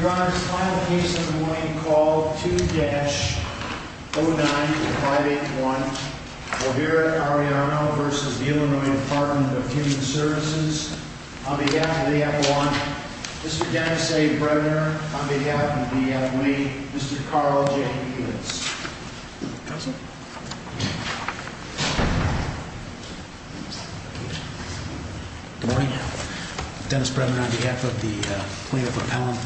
Your Honor, this is the final case of the morning called 2-09581. We're here at Arellano v. Illinois Department of Human Services. On behalf of the F1, Mr. Dennis A. Bremner. On behalf of the L.A., Mr. Carl J. Edens. Good morning. Dennis Bremner on behalf of the Plaintiff Appellant,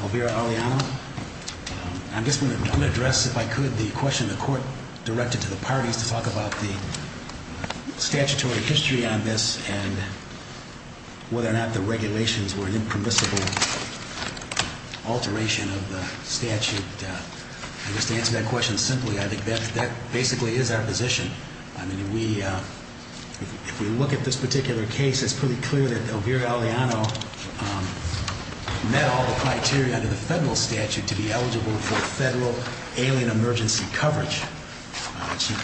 Olvera Arellano. I'm just going to address, if I could, the question the court directed to the parties to talk about the statutory history on this and whether or not the regulations were an impermissible alteration of the statute. And just to answer that question simply, I think that basically is our position. If we look at this particular case, it's pretty clear that Olvera Arellano met all the criteria under the federal statute to be eligible for federal alien emergency coverage.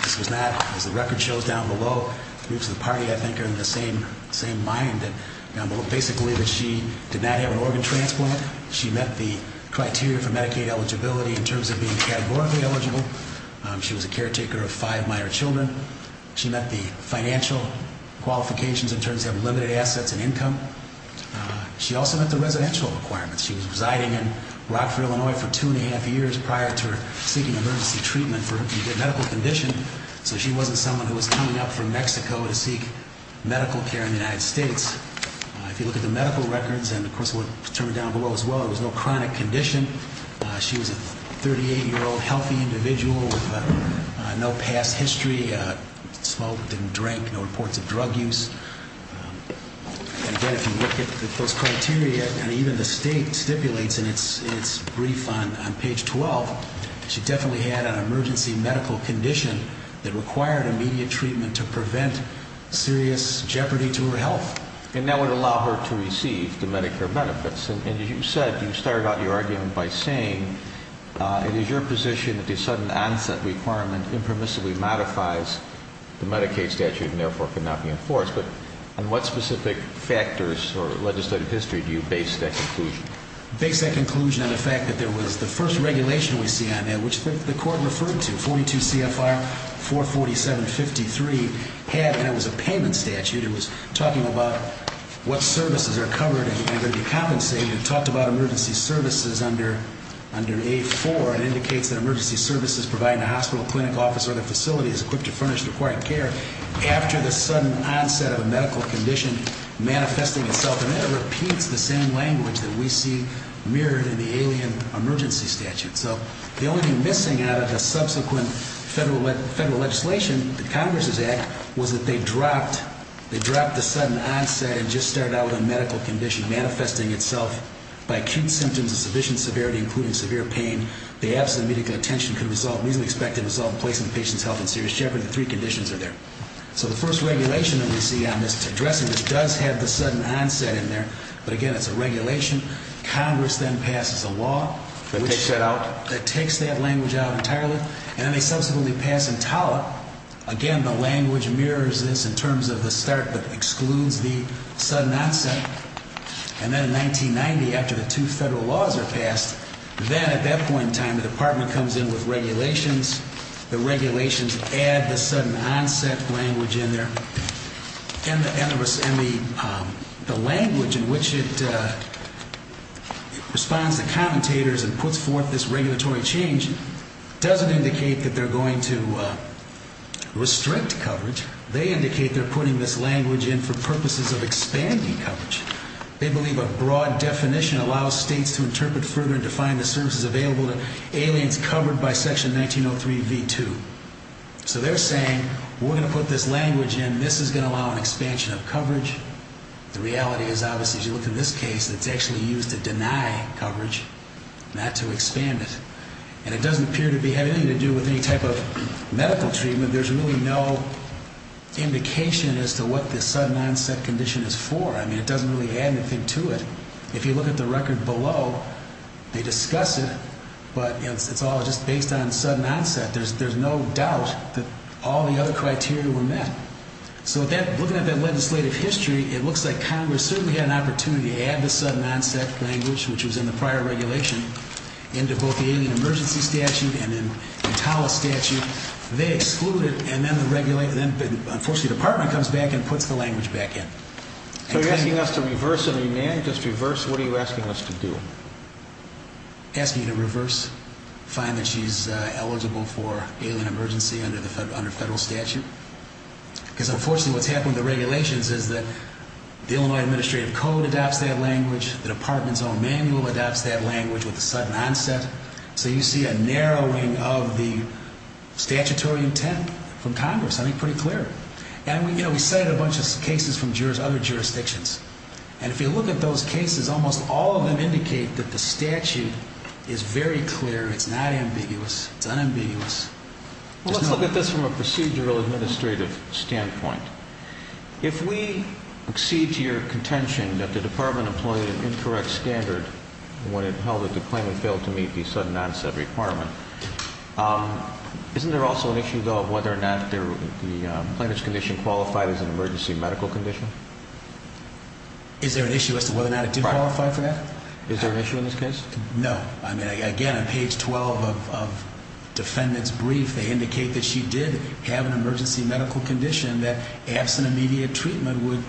This was not, as the record shows down below, groups of the party, I think, are in the same mind. Basically, she did not have an organ transplant. She met the criteria for Medicaid eligibility in terms of being categorically eligible. She was a caretaker of five minor children. She met the financial qualifications in terms of limited assets and income. She also met the residential requirements. She was residing in Rockford, Illinois, for two and a half years prior to seeking emergency treatment for a medical condition. So she wasn't someone who was coming up from Mexico to seek medical care in the United States. If you look at the medical records, and of course what's determined down below as well, there was no chronic condition. She was a 38-year-old healthy individual with no past history, smoked, didn't drink, no reports of drug use. Again, if you look at those criteria, and even the state stipulates in its brief on page 12, she definitely had an emergency medical condition that required immediate treatment to prevent serious jeopardy to her health. And that would allow her to receive the Medicare benefits. And as you said, you started out your argument by saying, it is your position that the sudden onset requirement impermissibly modifies the Medicaid statute and therefore cannot be enforced. But on what specific factors or legislative history do you base that conclusion? I base that conclusion on the fact that there was the first regulation we see on that, which the court referred to, 42 CFR 447-53, and it was a payment statute. It was talking about what services are covered and are going to be compensated. It talked about emergency services under A-4. It indicates that emergency services providing a hospital, clinic, office, or other facility is equipped to furnish the required care. After the sudden onset of a medical condition manifesting itself, and it repeats the same language that we see mirrored in the alien emergency statute. So the only thing missing out of the subsequent federal legislation, the Congress' act, was that they dropped the sudden onset and just started out with a medical condition manifesting itself by acute symptoms of sufficient severity, including severe pain. The absence of medical attention could result in a reasonably expected result in placing the patient's health in serious jeopardy. The three conditions are there. So the first regulation that we see on this addressing this does have the sudden onset in there, but again, it's a regulation. Congress then passes a law that takes that language out entirely, and then they subsequently pass in TALA. Again, the language mirrors this in terms of the start but excludes the sudden onset. And then in 1990, after the two federal laws are passed, then at that point in time, the Department comes in with regulations. The regulations add the sudden onset language in there. And the language in which it responds to commentators and puts forth this regulatory change doesn't indicate that they're going to restrict coverage. They indicate they're putting this language in for purposes of expanding coverage. They believe a broad definition allows states to interpret further and define the services available to aliens covered by Section 1903 v. 2. So they're saying we're going to put this language in. This is going to allow an expansion of coverage. The reality is, obviously, as you look at this case, it's actually used to deny coverage, not to expand it. And it doesn't appear to have anything to do with any type of medical treatment. There's really no indication as to what the sudden onset condition is for. I mean, it doesn't really add anything to it. If you look at the record below, they discuss it, but it's all just based on sudden onset. There's no doubt that all the other criteria were met. So looking at that legislative history, it looks like Congress certainly had an opportunity to add the sudden onset language, which was in the prior regulation, into both the alien emergency statute and then the TALA statute. They exclude it, and then, unfortunately, the Department comes back and puts the language back in. So you're asking us to reverse and amend, just reverse? What are you asking us to do? Asking you to reverse, find that she's eligible for alien emergency under federal statute. Because, unfortunately, what's happened with the regulations is that the Illinois Administrative Code adopts that language. The Department's own manual adopts that language with the sudden onset. So you see a narrowing of the statutory intent from Congress. I mean, pretty clear. And, you know, we cited a bunch of cases from other jurisdictions, and if you look at those cases, almost all of them indicate that the statute is very clear. It's not ambiguous. It's unambiguous. Well, let's look at this from a procedural administrative standpoint. If we accede to your contention that the Department employed an incorrect standard when it held that the claimant failed to meet the sudden onset requirement, isn't there also an issue, though, of whether or not the plaintiff's condition qualified as an emergency medical condition? Is there an issue as to whether or not it did qualify for that? Is there an issue in this case? No. I mean, again, on page 12 of defendant's brief, they indicate that she did have an emergency medical condition that, absent immediate treatment, would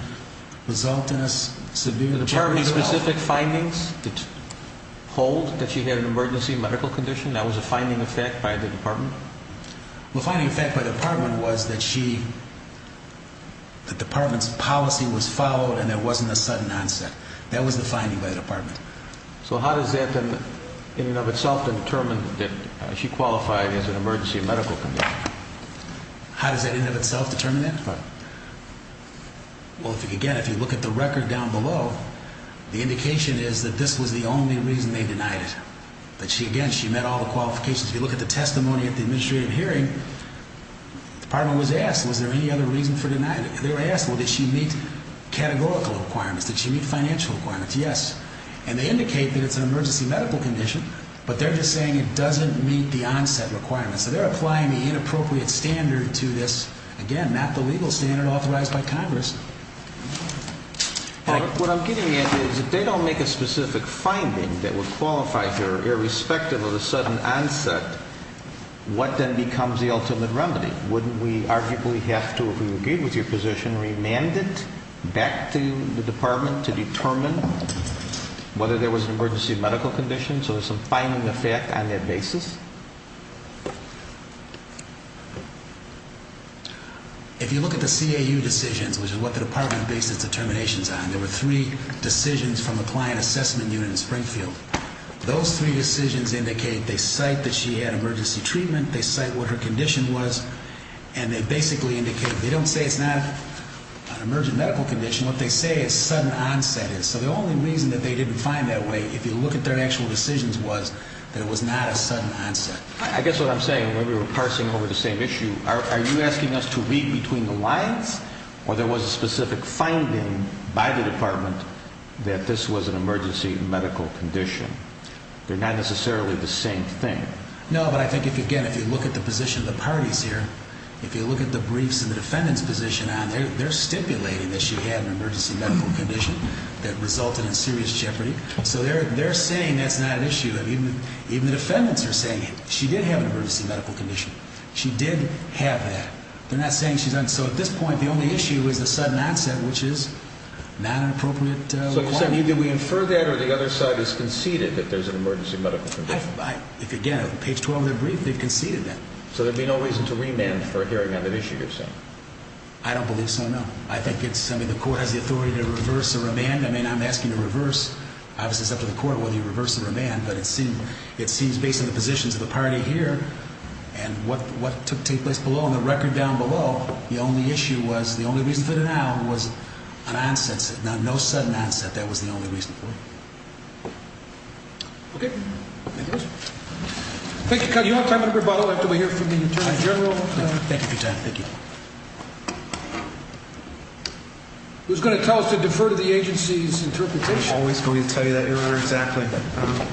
result in a severe injury to her health. Were there specific findings that hold that she had an emergency medical condition? That was a finding of fact by the Department? The finding of fact by the Department was that she, the Department's policy was followed and there wasn't a sudden onset. That was the finding by the Department. So how does that, in and of itself, determine that she qualified as an emergency medical condition? How does that, in and of itself, determine that? Well, again, if you look at the record down below, the indication is that this was the only reason they denied it, that she, again, she met all the qualifications. If you look at the testimony at the administrative hearing, the Department was asked, was there any other reason for denying it? They were asked, well, did she meet categorical requirements? Did she meet financial requirements? Yes. And they indicate that it's an emergency medical condition, but they're just saying it doesn't meet the onset requirements. So they're applying the inappropriate standard to this, again, not the legal standard authorized by Congress. What I'm getting at is if they don't make a specific finding that would qualify her irrespective of the sudden onset, what then becomes the ultimate remedy? Wouldn't we arguably have to, if we agree with your position, remand it back to the Department to determine whether there was an emergency medical condition? So there's some finding of fact on that basis? If you look at the CAU decisions, which is what the Department based its determinations on, there were three decisions from the Client Assessment Unit in Springfield. Those three decisions indicate they cite that she had emergency treatment, they cite what her condition was, and they basically indicate, they don't say it's not an emergency medical condition, what they say is sudden onset is. So the only reason that they didn't find that way, if you look at their actual decisions, was that it was not a sudden onset. I guess what I'm saying, when we were parsing over the same issue, are you asking us to read between the lines, or there was a specific finding by the Department that this was an emergency medical condition? They're not necessarily the same thing. No, but I think, again, if you look at the position of the parties here, if you look at the briefs and the defendant's position on it, they're stipulating that she had an emergency medical condition that resulted in serious jeopardy. So they're saying that's not an issue. Even the defendants are saying she did have an emergency medical condition. She did have that. They're not saying she doesn't. So at this point, the only issue is the sudden onset, which is not an appropriate requirement. So you're saying either we infer that or the other side has conceded that there's an emergency medical condition. If, again, page 12 of their brief, they've conceded that. So there'd be no reason to remand for hearing on that issue, you're saying? I don't believe so, no. I think it's something the court has the authority to reverse or remand. I mean, I'm asking you to reverse. Obviously, it's up to the court whether you reverse it or remand, but it seems based on the positions of the party here and what took place below. On the record down below, the only issue was the only reason for denial was an onset. No sudden onset. That was the only reason for it. Okay. Thank you. You don't have time for rebuttal after we hear from the Attorney General. Thank you for your time. Thank you. Who's going to tell us to defer to the agency's interpretation? I'm always going to tell you that, Your Honor. Exactly.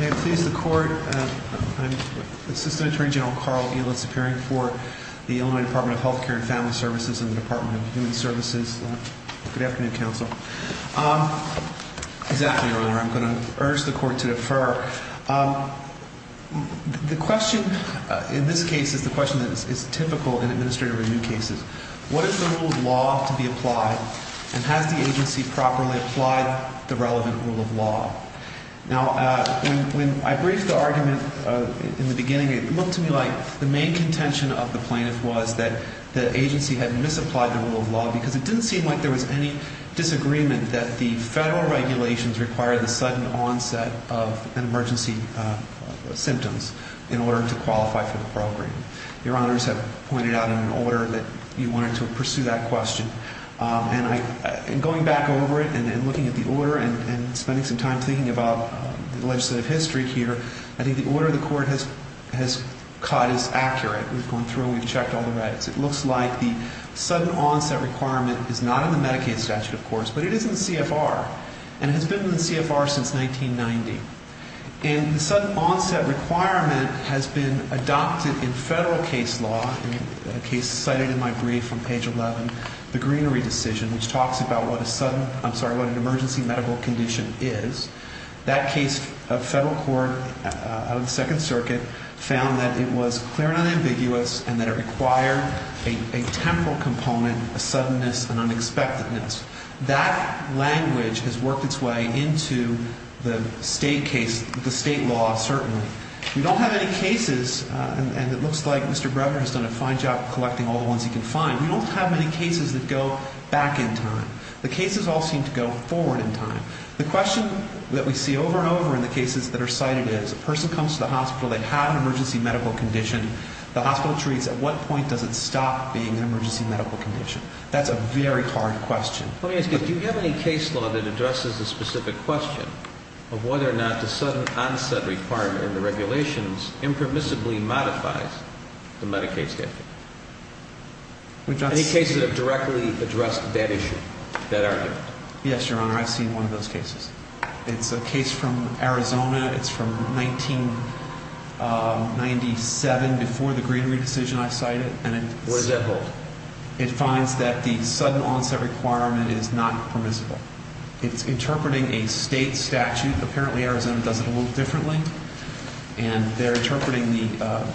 May it please the Court, I'm Assistant Attorney General Carl Elis, appearing for the Illinois Department of Health Care and Family Services and the Department of Human Services. Good afternoon, Counsel. Exactly, Your Honor. I'm going to urge the Court to defer. The question in this case is the question that is typical in administrative review cases. What is the rule of law to be applied, and has the agency properly applied the relevant rule of law? Now, when I briefed the argument in the beginning, it looked to me like the main contention of the plaintiff was that the agency had misapplied the rule of law because it didn't seem like there was any disagreement that the federal regulations require the sudden onset of an emergency symptoms in order to qualify for the program. Your Honors have pointed out in an order that you wanted to pursue that question. And going back over it and looking at the order and spending some time thinking about the legislative history here, I think the order the Court has caught is accurate. We've gone through and we've checked all the regs. It looks like the sudden onset requirement is not in the Medicaid statute, of course, but it is in the CFR. And it has been in the CFR since 1990. And the sudden onset requirement has been adopted in federal case law, a case cited in my brief on page 11, the Greenery Decision, which talks about what a sudden, I'm sorry, what an emergency medical condition is. That case of federal court of the Second Circuit found that it was clear and ambiguous and that it required a temporal component, a suddenness and unexpectedness. That language has worked its way into the state case, the state law, certainly. We don't have any cases, and it looks like Mr. Brevner has done a fine job collecting all the ones he can find. We don't have any cases that go back in time. The cases all seem to go forward in time. The question that we see over and over in the cases that are cited is a person comes to the hospital, they have an emergency medical condition, the hospital treats, at what point does it stop being an emergency medical condition? That's a very hard question. Let me ask you, do you have any case law that addresses the specific question of whether or not the sudden onset requirement in the regulations impermissibly modifies the Medicaid statute? Any cases that have directly addressed that issue, that argument? Yes, Your Honor, I've seen one of those cases. It's a case from Arizona. It's from 1997, before the Greenery Decision I cited. Where does that hold? It finds that the sudden onset requirement is not permissible. It's interpreting a state statute. Apparently, Arizona does it a little differently. And they're interpreting the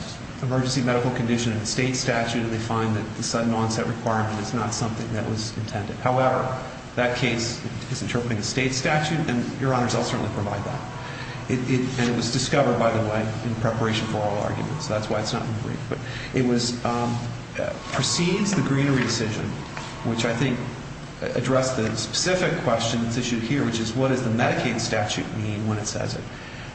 emergency medical condition in a state statute, and they find that the sudden onset requirement is not something that was intended. However, that case is interpreting a state statute, and, Your Honors, I'll certainly provide that. And it was discovered, by the way, in preparation for all arguments. That's why it's not in the brief. But it precedes the Greenery Decision, which I think addressed the specific question that's issued here, which is what does the Medicaid statute mean when it says it?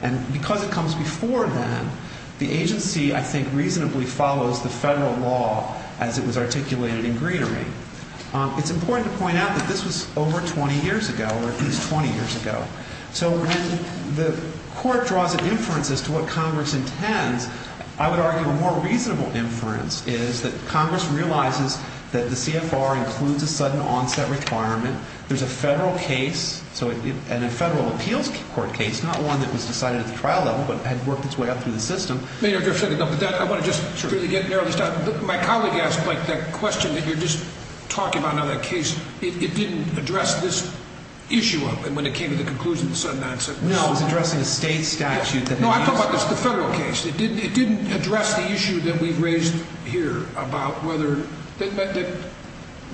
And because it comes before then, the agency, I think, reasonably follows the federal law as it was articulated in Greenery. It's important to point out that this was over 20 years ago, or at least 20 years ago. So when the court draws an inference as to what Congress intends, I would argue a more reasonable inference is that Congress realizes that the CFR includes a sudden onset requirement. There's a federal case, and a federal appeals court case, not one that was decided at the trial level, but had worked its way up through the system. Mayor, just a second. I want to just really get narrowly started. My colleague asked, Mike, that question that you're just talking about on that case. It didn't address this issue of when it came to the conclusion of the sudden onset. No, it was addressing a state statute. No, I'm talking about the federal case. It didn't address the issue that we've raised here about whether –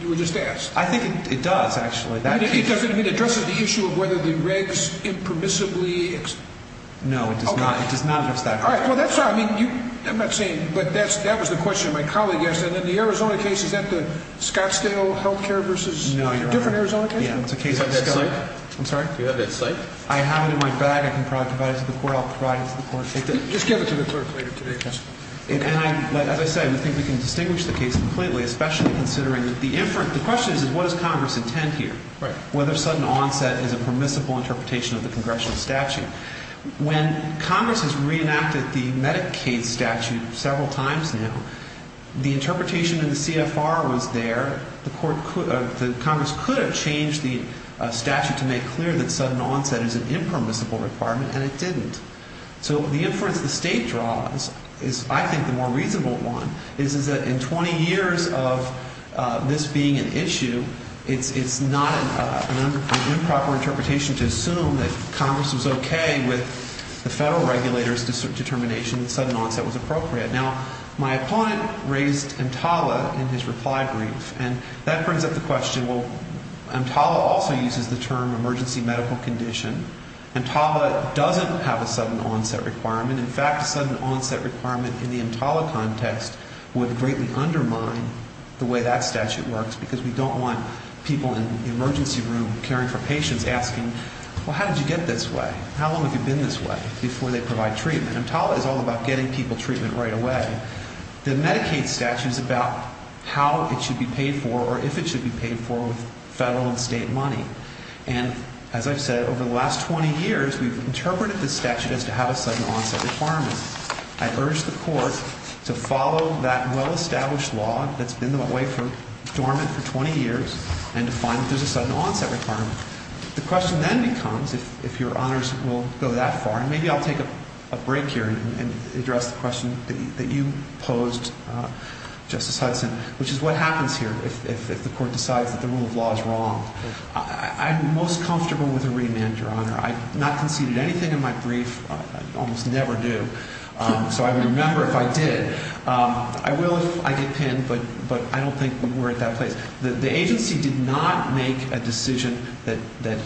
you were just asked. I think it does, actually. It doesn't address the issue of whether the regs impermissibly – No, it does not address that. All right. Well, that's not – I mean, I'm not saying – but that was the question my colleague asked. And then the Arizona case, is that the Scottsdale health care versus different Arizona cases? No, Your Honor. Yeah, it's a case of Scottsdale. Do you have that cite? I'm sorry? Do you have that cite? I have it in my bag. I can probably provide it to the court. I'll provide it to the court. Just give it to the clerk later today. Okay. As I said, I think we can distinguish the case completely, especially considering the – the question is, what does Congress intend here? Right. Whether sudden onset is a permissible interpretation of the congressional statute. When Congress has reenacted the Medicaid statute several times now, the interpretation in the CFR was there. The court – the Congress could have changed the statute to make clear that sudden onset is an impermissible requirement, and it didn't. So the inference the State draws is, I think, the more reasonable one, is that in 20 years of this being an issue, it's not an improper interpretation to assume that Congress was okay with the federal regulator's determination that sudden onset was appropriate. Now, my opponent raised EMTALA in his reply brief, and that brings up the question, well, EMTALA also uses the term emergency medical condition. EMTALA doesn't have a sudden onset requirement. In fact, a sudden onset requirement in the EMTALA context would greatly undermine the way that statute works, because we don't want people in the emergency room caring for patients asking, well, how did you get this way? How long have you been this way before they provide treatment? EMTALA is all about getting people treatment right away. The Medicaid statute is about how it should be paid for or if it should be paid for with federal and state money. And as I've said, over the last 20 years, we've interpreted the statute as to have a sudden onset requirement. I urge the Court to follow that well-established law that's been the way for dormant for 20 years and to find that there's a sudden onset requirement. The question then becomes if your honors will go that far, and maybe I'll take a break here and address the question that you posed, Justice Hudson, which is what happens here if the Court decides that the rule of law is wrong? I'm most comfortable with a remand, Your Honor. I've not conceded anything in my brief. I almost never do. So I would remember if I did. I will if I get pinned, but I don't think we're at that place. The agency did not make a decision that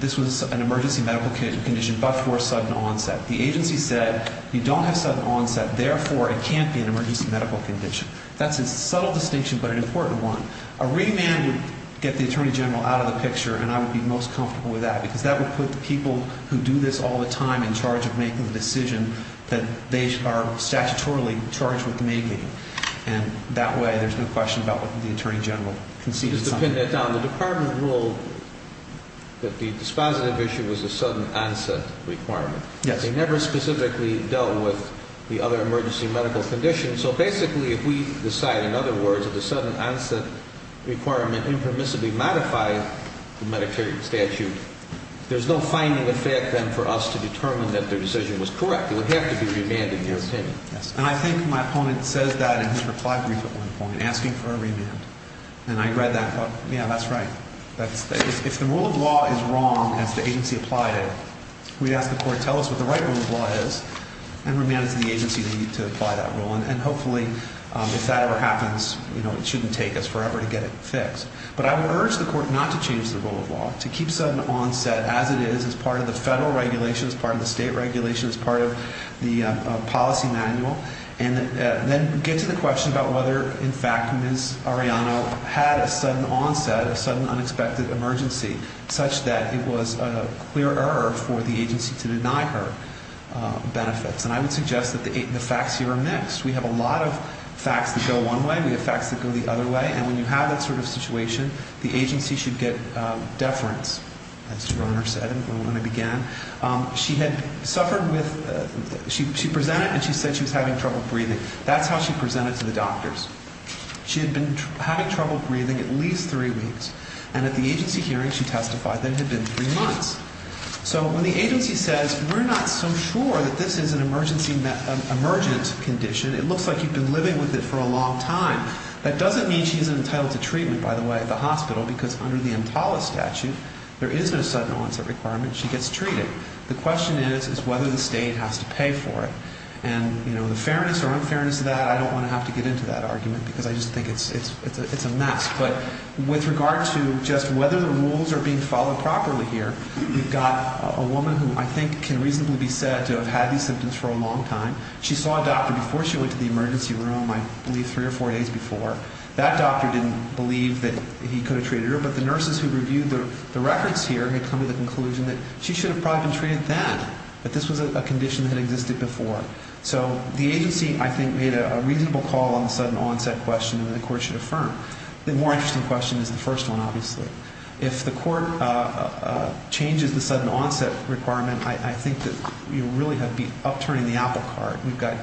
this was an emergency medical condition but for a sudden onset. The agency said you don't have sudden onset, therefore it can't be an emergency medical condition. That's a subtle distinction but an important one. A remand would get the Attorney General out of the picture, and I would be most comfortable with that because that would put the people who do this all the time in charge of making the decision that they are statutorily charged with the maid meeting. And that way there's no question about what the Attorney General conceded. Just to pin that down, the Department ruled that the dispositive issue was a sudden onset requirement. Yes. They never specifically dealt with the other emergency medical conditions. So basically if we decide, in other words, that the sudden onset requirement impermissibly modified the Medicare statute, there's no finding effect then for us to determine that their decision was correct. It would have to be remanded in their opinion. And I think my opponent says that in his reply brief at one point, asking for a remand. And I read that and thought, yeah, that's right. If the rule of law is wrong, as the agency applied it, we ask the court, tell us what the right rule of law is, and remand it to the agency to apply that rule. And hopefully if that ever happens, it shouldn't take us forever to get it fixed. But I would urge the court not to change the rule of law, to keep sudden onset as it is, as part of the federal regulations, part of the state regulations, part of the policy manual, and then get to the question about whether, in fact, Ms. Arellano had a sudden onset, a sudden unexpected emergency, such that it was a clear error for the agency to deny her benefits. And I would suggest that the facts here are mixed. We have a lot of facts that go one way. We have facts that go the other way. And when you have that sort of situation, the agency should get deference, as Your Honor said when it began. She had suffered with ‑‑ she presented and she said she was having trouble breathing. That's how she presented to the doctors. She had been having trouble breathing at least three weeks. And at the agency hearing, she testified that it had been three months. So when the agency says we're not so sure that this is an emergent condition, it looks like you've been living with it for a long time, that doesn't mean she isn't entitled to treatment, by the way, at the hospital, because under the EMTALA statute, there is no sudden onset requirement. She gets treated. The question is, is whether the state has to pay for it. And, you know, the fairness or unfairness of that, I don't want to have to get into that argument because I just think it's a mess. But with regard to just whether the rules are being followed properly here, we've got a woman who I think can reasonably be said to have had these symptoms for a long time. She saw a doctor before she went to the emergency room, I believe three or four days before. That doctor didn't believe that he could have treated her, but the nurses who reviewed the records here had come to the conclusion that she should have probably been treated then, that this was a condition that existed before. So the agency, I think, made a reasonable call on the sudden onset question that the court should affirm. The more interesting question is the first one, obviously. If the court changes the sudden onset requirement, I think that you really have to be upturning the apple cart. We've got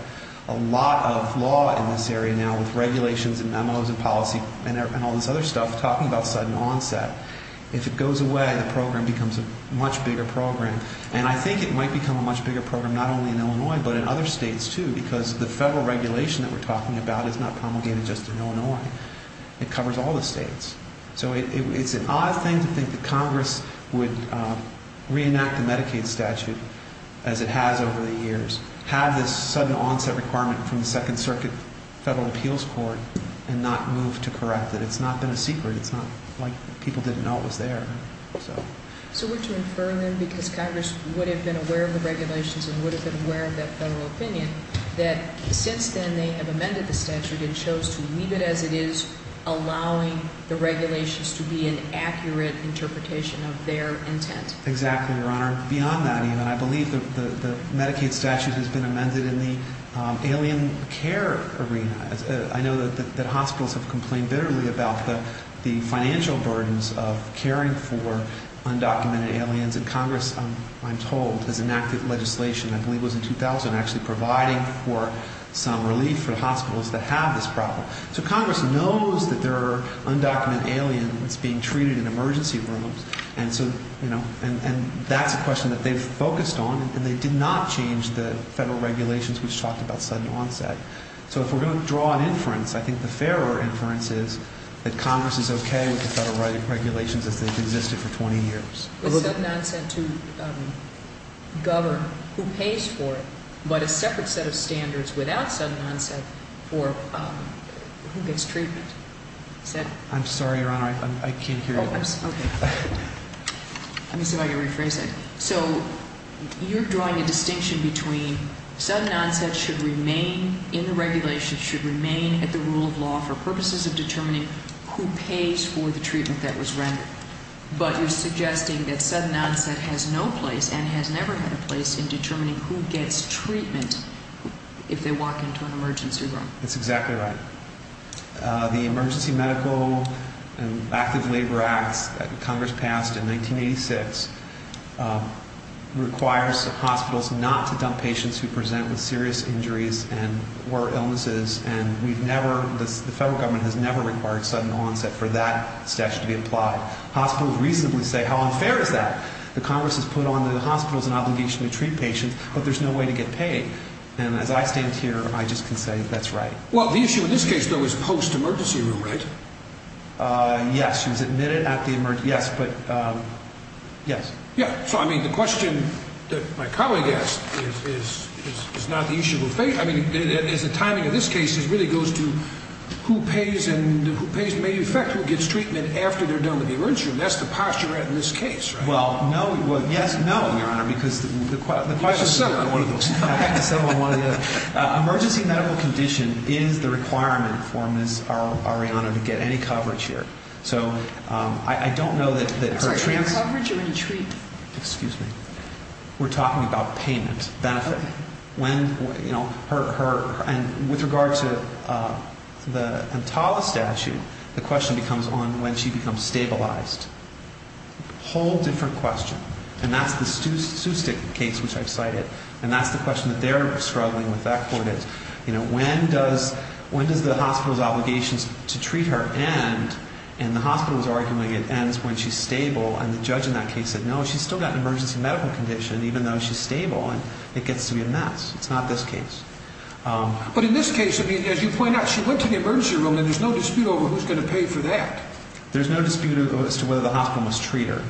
a lot of law in this area now with regulations and memos and policy and all this other stuff talking about sudden onset. If it goes away, the program becomes a much bigger program. And I think it might become a much bigger program not only in Illinois but in other states too because the federal regulation that we're talking about is not promulgated just in Illinois. It covers all the states. So it's an odd thing to think that Congress would reenact the Medicaid statute as it has over the years, have this sudden onset requirement from the Second Circuit Federal Appeals Court, and not move to correct it. It's not been a secret. It's not like people didn't know it was there. So were to infer then because Congress would have been aware of the regulations and would have been aware of that federal opinion that since then they have amended the statute and chose to leave it as it is, allowing the regulations to be an accurate interpretation of their intent. Exactly, Your Honor. Beyond that, even, I believe the Medicaid statute has been amended in the alien care arena. I know that hospitals have complained bitterly about the financial burdens of caring for undocumented aliens. And Congress, I'm told, has enacted legislation, I believe it was in 2000, actually providing for some relief for the hospitals that have this problem. So Congress knows that there are undocumented aliens being treated in emergency rooms, and that's a question that they've focused on, and they did not change the federal regulations which talked about sudden onset. So if we're going to draw an inference, I think the fairer inference is that Congress is okay with the federal regulations as they've existed for 20 years. With sudden onset to govern who pays for it, but a separate set of standards without sudden onset for who gets treatment. I'm sorry, Your Honor, I can't hear you. Okay. Let me see if I can rephrase that. So you're drawing a distinction between sudden onset should remain in the regulations, should remain at the rule of law for purposes of determining who pays for the treatment that was rendered. But you're suggesting that sudden onset has no place and has never had a place in determining who gets treatment if they walk into an emergency room. That's exactly right. The Emergency Medical and Active Labor Acts that Congress passed in 1986 requires hospitals not to dump patients who present with serious injuries or illnesses, and we've never, the federal government has never required sudden onset for that statute to be applied. Hospitals recently say, how unfair is that? The Congress has put on the hospitals an obligation to treat patients, but there's no way to get paid. And as I stand here, I just can say that's right. Well, the issue in this case, though, is post-emergency room, right? Yes. She was admitted at the emergency, yes, but, yes. Yeah. So, I mean, the question that my colleague asked is not the issue of fate. I mean, as the timing of this case really goes to who pays and who pays may affect who gets treatment after they're done with the emergency room. That's the posture we're at in this case, right? Well, no, well, yes, no, Your Honor, because the question is one of those. You have to settle on one or the other. Emergency medical condition is the requirement for Ms. Arellano to get any coverage here. So, I don't know that her transfer. I'm sorry, any coverage or any treatment? Excuse me. We're talking about payment, benefit. When, you know, her, and with regard to the Entala statute, the question becomes on when she becomes stabilized. A whole different question, and that's the Sustic case, which I've cited, and that's the question that they're struggling with at that point is, you know, when does the hospital's obligations to treat her end, and the hospital is arguing it ends when she's stable, and the judge in that case said, no, she's still got an emergency medical condition, even though she's stable, and it gets to be a mess. It's not this case. But in this case, I mean, as you point out, she went to the emergency room, and there's no dispute over who's going to pay for that. There's no dispute as to whether the hospital must treat her.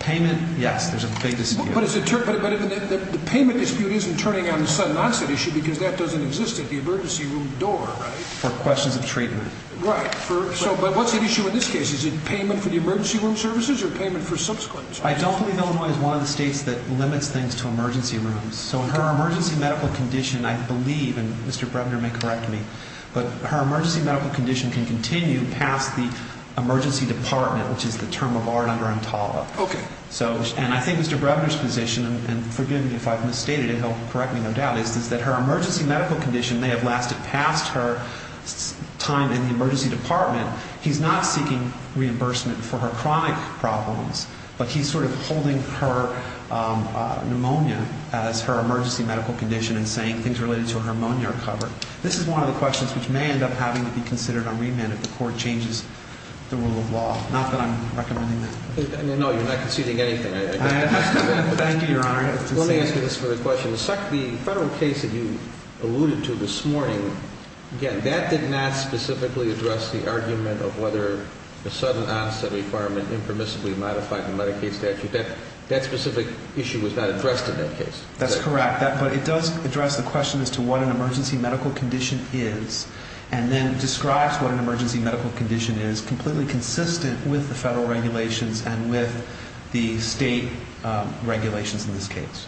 Payment, yes, there's a big dispute. But the payment dispute isn't turning on a sudden onset issue because that doesn't exist at the emergency room door, right? For questions of treatment. Right. But what's the issue in this case? Is it payment for the emergency room services or payment for subsequent services? Well, I don't believe Illinois is one of the states that limits things to emergency rooms. So in her emergency medical condition, I believe, and Mr. Brevner may correct me, but her emergency medical condition can continue past the emergency department, which is the term of art under ANTALVA. Okay. And I think Mr. Brevner's position, and forgive me if I've misstated it, he'll correct me no doubt, is that her emergency medical condition may have lasted past her time in the emergency department. He's not seeking reimbursement for her chronic problems, but he's sort of holding her pneumonia as her emergency medical condition and saying things related to her pneumonia are covered. This is one of the questions which may end up having to be considered on remand if the court changes the rule of law. Not that I'm recommending that. No, you're not conceding anything. I am. Thank you, Your Honor. Let me answer this for the question. The federal case that you alluded to this morning, again, that did not specifically address the argument of whether the sudden onset requirement impermissibly modified the Medicaid statute. That specific issue was not addressed in that case. That's correct. But it does address the question as to what an emergency medical condition is and then describes what an emergency medical condition is completely consistent with the federal regulations and with the state regulations in this case.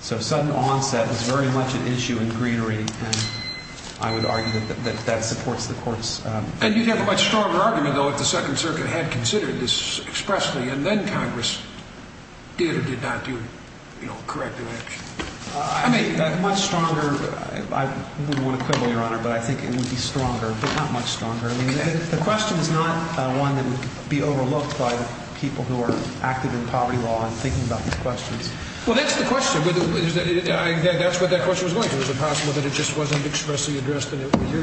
So sudden onset is very much an issue in greenery, and I would argue that that supports the court's... And you'd have a much stronger argument, though, if the Second Circuit had considered this expressly and then Congress did or did not do, you know, corrective action. I mean... Much stronger. I wouldn't want to quibble, Your Honor, but I think it would be stronger, but not much stronger. The question is not one that would be overlooked by the people who are active in poverty law and thinking about these questions. Well, that's the question. That's what that question was going to. Is it possible that it just wasn't expressly addressed and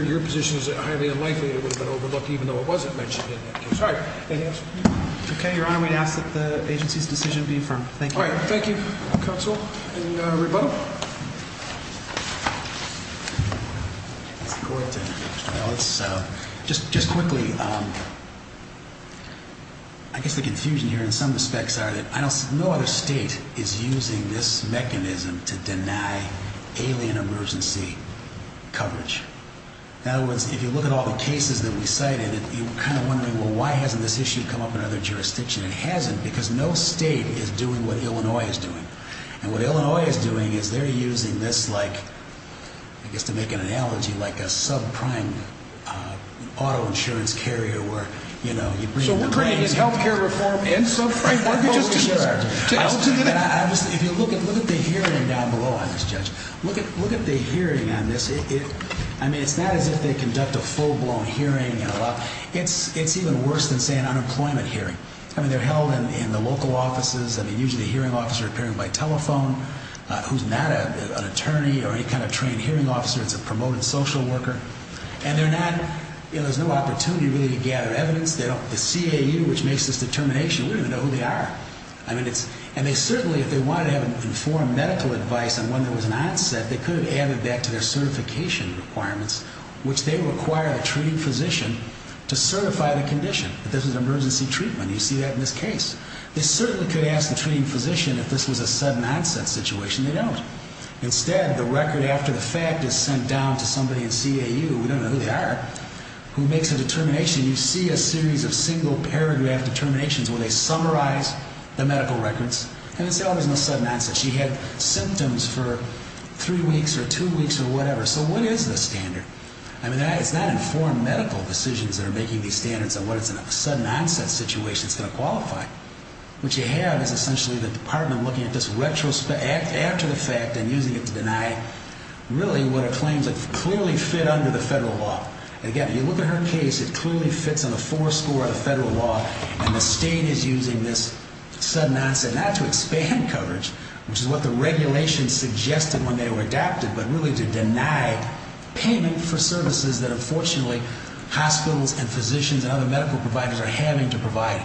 your position is highly unlikely it would have been overlooked even though it wasn't mentioned in that case. All right. Anything else? Okay, Your Honor. We'd ask that the agency's decision be affirmed. Thank you. All right. Thank you, counsel. And rebuttal? It's the court. Just quickly, I guess the confusion here in some respects are that no other state is using this mechanism to deny alien emergency coverage. In other words, if you look at all the cases that we cited, you're kind of wondering, well, why hasn't this issue come up in other jurisdictions? It hasn't because no state is doing what Illinois is doing. And what Illinois is doing is they're using this like, I guess to make an analogy, like a subprime auto insurance carrier where, you know, you bring in the money. So we're creating this health care reform in subprime mortgages? Sure. If you look at the hearing down below, I guess, Judge, look at the hearing on this. I mean, it's not as if they conduct a full-blown hearing. It's even worse than, say, an unemployment hearing. I mean, they're held in the local offices. I mean, usually a hearing officer appearing by telephone who's not an attorney or any kind of trained hearing officer. It's a promoted social worker. And they're not – you know, there's no opportunity really to gather evidence. The CAU, which makes this determination, we don't even know who they are. I mean, it's – and they certainly, if they wanted to have informed medical advice on when there was an onset, they could have added that to their certification requirements, which they require a treating physician to certify the condition that this is an emergency treatment. You see that in this case. They certainly could ask the treating physician if this was a sudden-onset situation. They don't. Instead, the record after the fact is sent down to somebody in CAU – we don't know who they are – who makes a determination. You see a series of single-paragraph determinations where they summarize the medical records. And they say, oh, there's no sudden onset. She had symptoms for three weeks or two weeks or whatever. So what is the standard? I mean, it's not informed medical decisions that are making these standards on when it's in a sudden-onset situation. It's going to qualify. What you have is essentially the department looking at this retrospective, after the fact, and using it to deny really what are claims that clearly fit under the federal law. Again, if you look at her case, it clearly fits on a four-score of the federal law, and the state is using this sudden-onset not to expand coverage, which is what the regulations suggested when they were adapted, but really to deny payment for services that, unfortunately, hospitals and physicians and other medical providers are having to provide.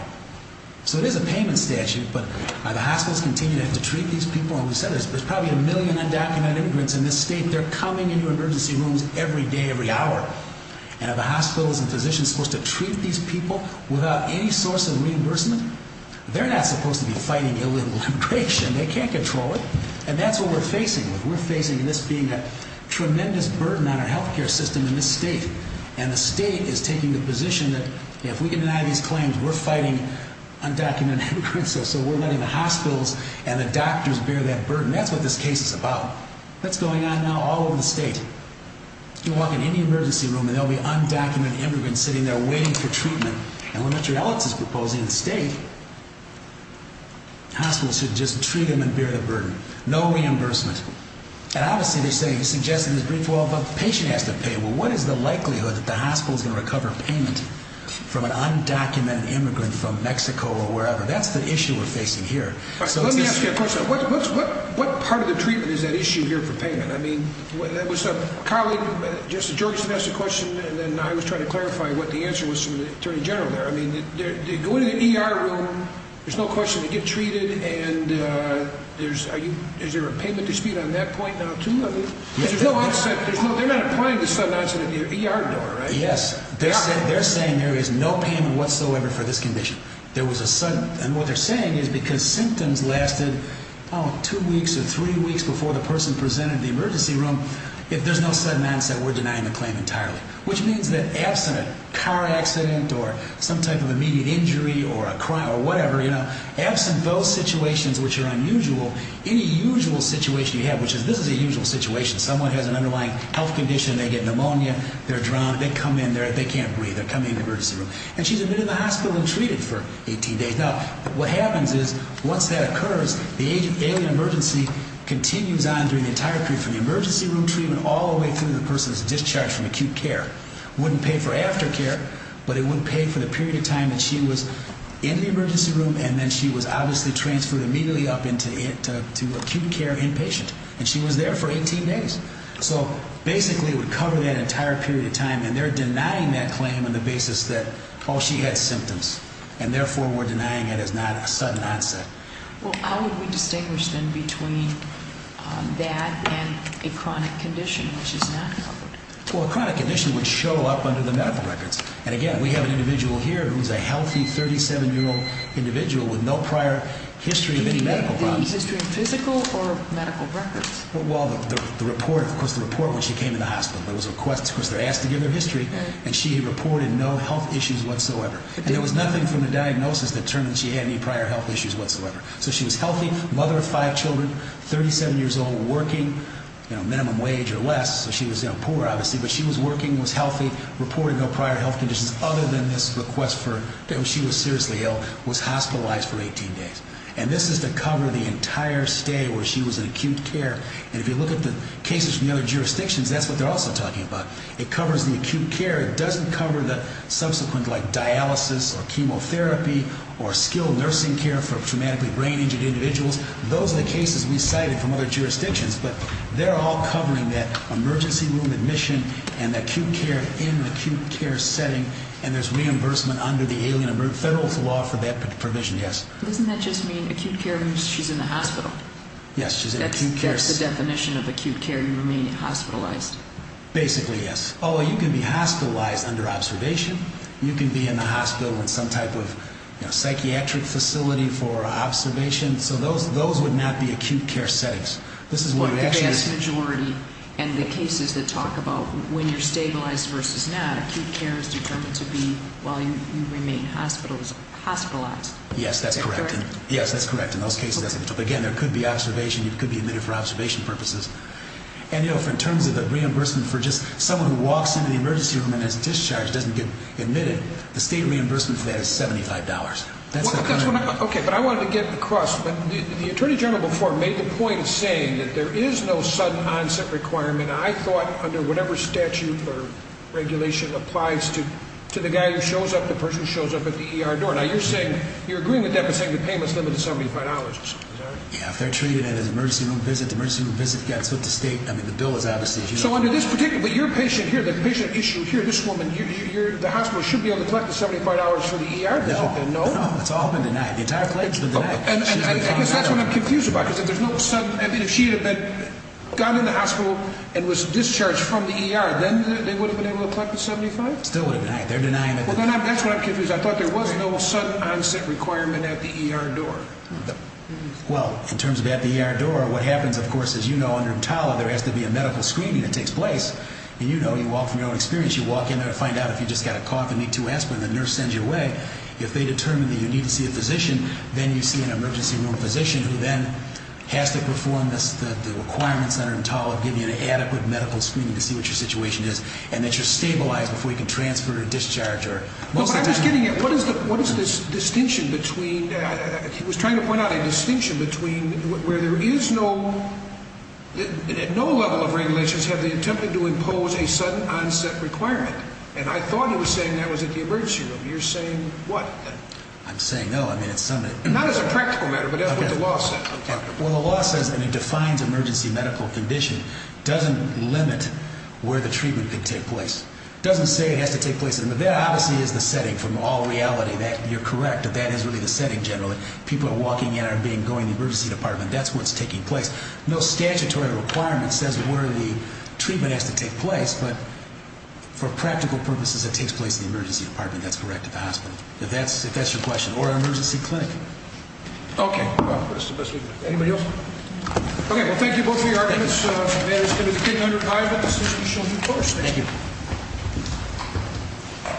So it is a payment statute, but are the hospitals continuing to have to treat these people? And we said there's probably a million undocumented immigrants in this state. They're coming into emergency rooms every day, every hour. And are the hospitals and physicians supposed to treat these people without any source of reimbursement? They're not supposed to be fighting illegal immigration. They can't control it. And that's what we're facing. We're facing this being a tremendous burden on our health care system in this state. And the state is taking the position that if we can deny these claims, we're fighting undocumented immigrants, so we're letting the hospitals and the doctors bear that burden. That's what this case is about. That's going on now all over the state. You walk in any emergency room, and there will be undocumented immigrants sitting there waiting for treatment. And when Mr. Alex is proposing the state, hospitals should just treat them and bear the burden. No reimbursement. And obviously they're saying, he's suggesting there's $312 a patient has to pay. Well, what is the likelihood that the hospital is going to recover payment from an undocumented immigrant from Mexico or wherever? That's the issue we're facing here. Let me ask you a question. What part of the treatment is at issue here for payment? I mean, that was a colleague, Justice Georgeson, asked the question, and then I was trying to clarify what the answer was from the attorney general there. I mean, they go into the ER room, there's no question they get treated, and is there a payment dispute on that point now, too? No, they're not applying to sudden onset in the ER door, right? Yes. They're saying there is no payment whatsoever for this condition. And what they're saying is because symptoms lasted, oh, two weeks or three weeks before the person presented in the emergency room, if there's no sudden onset, we're denying the claim entirely, which means that absent a car accident or some type of immediate injury or a crime or whatever, absent those situations which are unusual, any usual situation you have, which is this is a usual situation, someone has an underlying health condition, they get pneumonia, they're drunk, they come in, they can't breathe, they're coming in the emergency room, and she's admitted to the hospital and treated for 18 days. Now, what happens is once that occurs, the alien emergency continues on during the entire period, from the emergency room treatment all the way through to the person's discharge from acute care. It wouldn't pay for aftercare, but it would pay for the period of time that she was in the emergency room and then she was obviously transferred immediately up into acute care inpatient, and she was there for 18 days. So basically it would cover that entire period of time, and they're denying that claim on the basis that, oh, she had symptoms, and therefore we're denying it as not a sudden onset. Well, how would we distinguish then between that and a chronic condition which is not covered? Well, a chronic condition would show up under the medical records. And again, we have an individual here who's a healthy 37-year-old individual with no prior history of any medical problems. Do you mean the history of physical or medical records? Well, the report, of course, the report when she came in the hospital. There was a request, of course, they're asked to give their history, and she reported no health issues whatsoever. And there was nothing from the diagnosis that determined she had any prior health issues whatsoever. So she was healthy, mother of five children, 37 years old, working, minimum wage or less. So she was poor, obviously, but she was working, was healthy, reported no prior health conditions other than this request that she was seriously ill, was hospitalized for 18 days. And this is to cover the entire stay where she was in acute care. And if you look at the cases from the other jurisdictions, that's what they're also talking about. It covers the acute care. It doesn't cover the subsequent, like, dialysis or chemotherapy or skilled nursing care for traumatically brain-injured individuals. Those are the cases we cited from other jurisdictions, but they're all covering that emergency room admission and acute care in acute care setting, and there's reimbursement under the Alien and Federalist Law for that provision, yes. Doesn't that just mean acute care means she's in the hospital? Yes, she's in acute care. That's the definition of acute care, you remain hospitalized. Basically, yes. Although you can be hospitalized under observation. You can be in the hospital in some type of psychiatric facility for observation. So those would not be acute care settings. Yes. The vast majority and the cases that talk about when you're stabilized versus not, acute care is determined to be while you remain hospitalized. Yes, that's correct. Yes, that's correct. In those cases, again, there could be observation. You could be admitted for observation purposes. And, you know, in terms of the reimbursement for just someone who walks into the emergency room and is discharged, doesn't get admitted, the state reimbursement for that is $75. Okay, but I wanted to get across. The Attorney General before made the point saying that there is no sudden onset requirement. I thought under whatever statute or regulation applies to the guy who shows up, the person who shows up at the ER door. Now, you're agreeing with that by saying the payment is limited to $75, is that right? Yes, if they're treated at an emergency room visit, the emergency room visit gets put to state. I mean, the bill is out of state. So under this particular, your patient here, the patient at issue here, this woman here, the hospital should be able to collect the $75 for the ER visit, no? No, no, it's all been denied. The entire claim has been denied. And I guess that's what I'm confused about. Because if there's no sudden, I mean, if she had gone in the hospital and was discharged from the ER, then they would have been able to collect the $75? Still would have been denied. They're denying it. Well, that's what I'm confused about. I thought there was no sudden onset requirement at the ER door. Well, in terms of at the ER door, what happens, of course, as you know, under TALA there has to be a medical screening that takes place. And you know, you walk from your own experience. You walk in there and find out if you just got a cough and need to aspirin. The nurse sends you away. If they determine that you need to see a physician, then you see an emergency room physician who then has to perform the requirements under TALA of giving you an adequate medical screening to see what your situation is and that you're stabilized before you can transfer or discharge. I'm just getting at, what is this distinction between, he was trying to point out a distinction between where there is no, at no level of regulations have they attempted to impose a sudden onset requirement. And I thought he was saying that was at the emergency room. You're saying what? I'm saying no. Not as a practical matter, but that's what the law says. Well, the law says, and it defines emergency medical condition, doesn't limit where the treatment could take place. It doesn't say it has to take place. That obviously is the setting from all reality that you're correct, that that is really the setting generally. When people are walking in or being, going to the emergency department, that's what's taking place. No statutory requirement says where the treatment has to take place, but for practical purposes it takes place in the emergency department, that's correct, at the hospital. If that's your question. Or an emergency clinic. Okay. Anybody else? Okay. Well, thank you both for your arguments. May I just give you the $1,500? The decision is yours. Thank you. Thank you.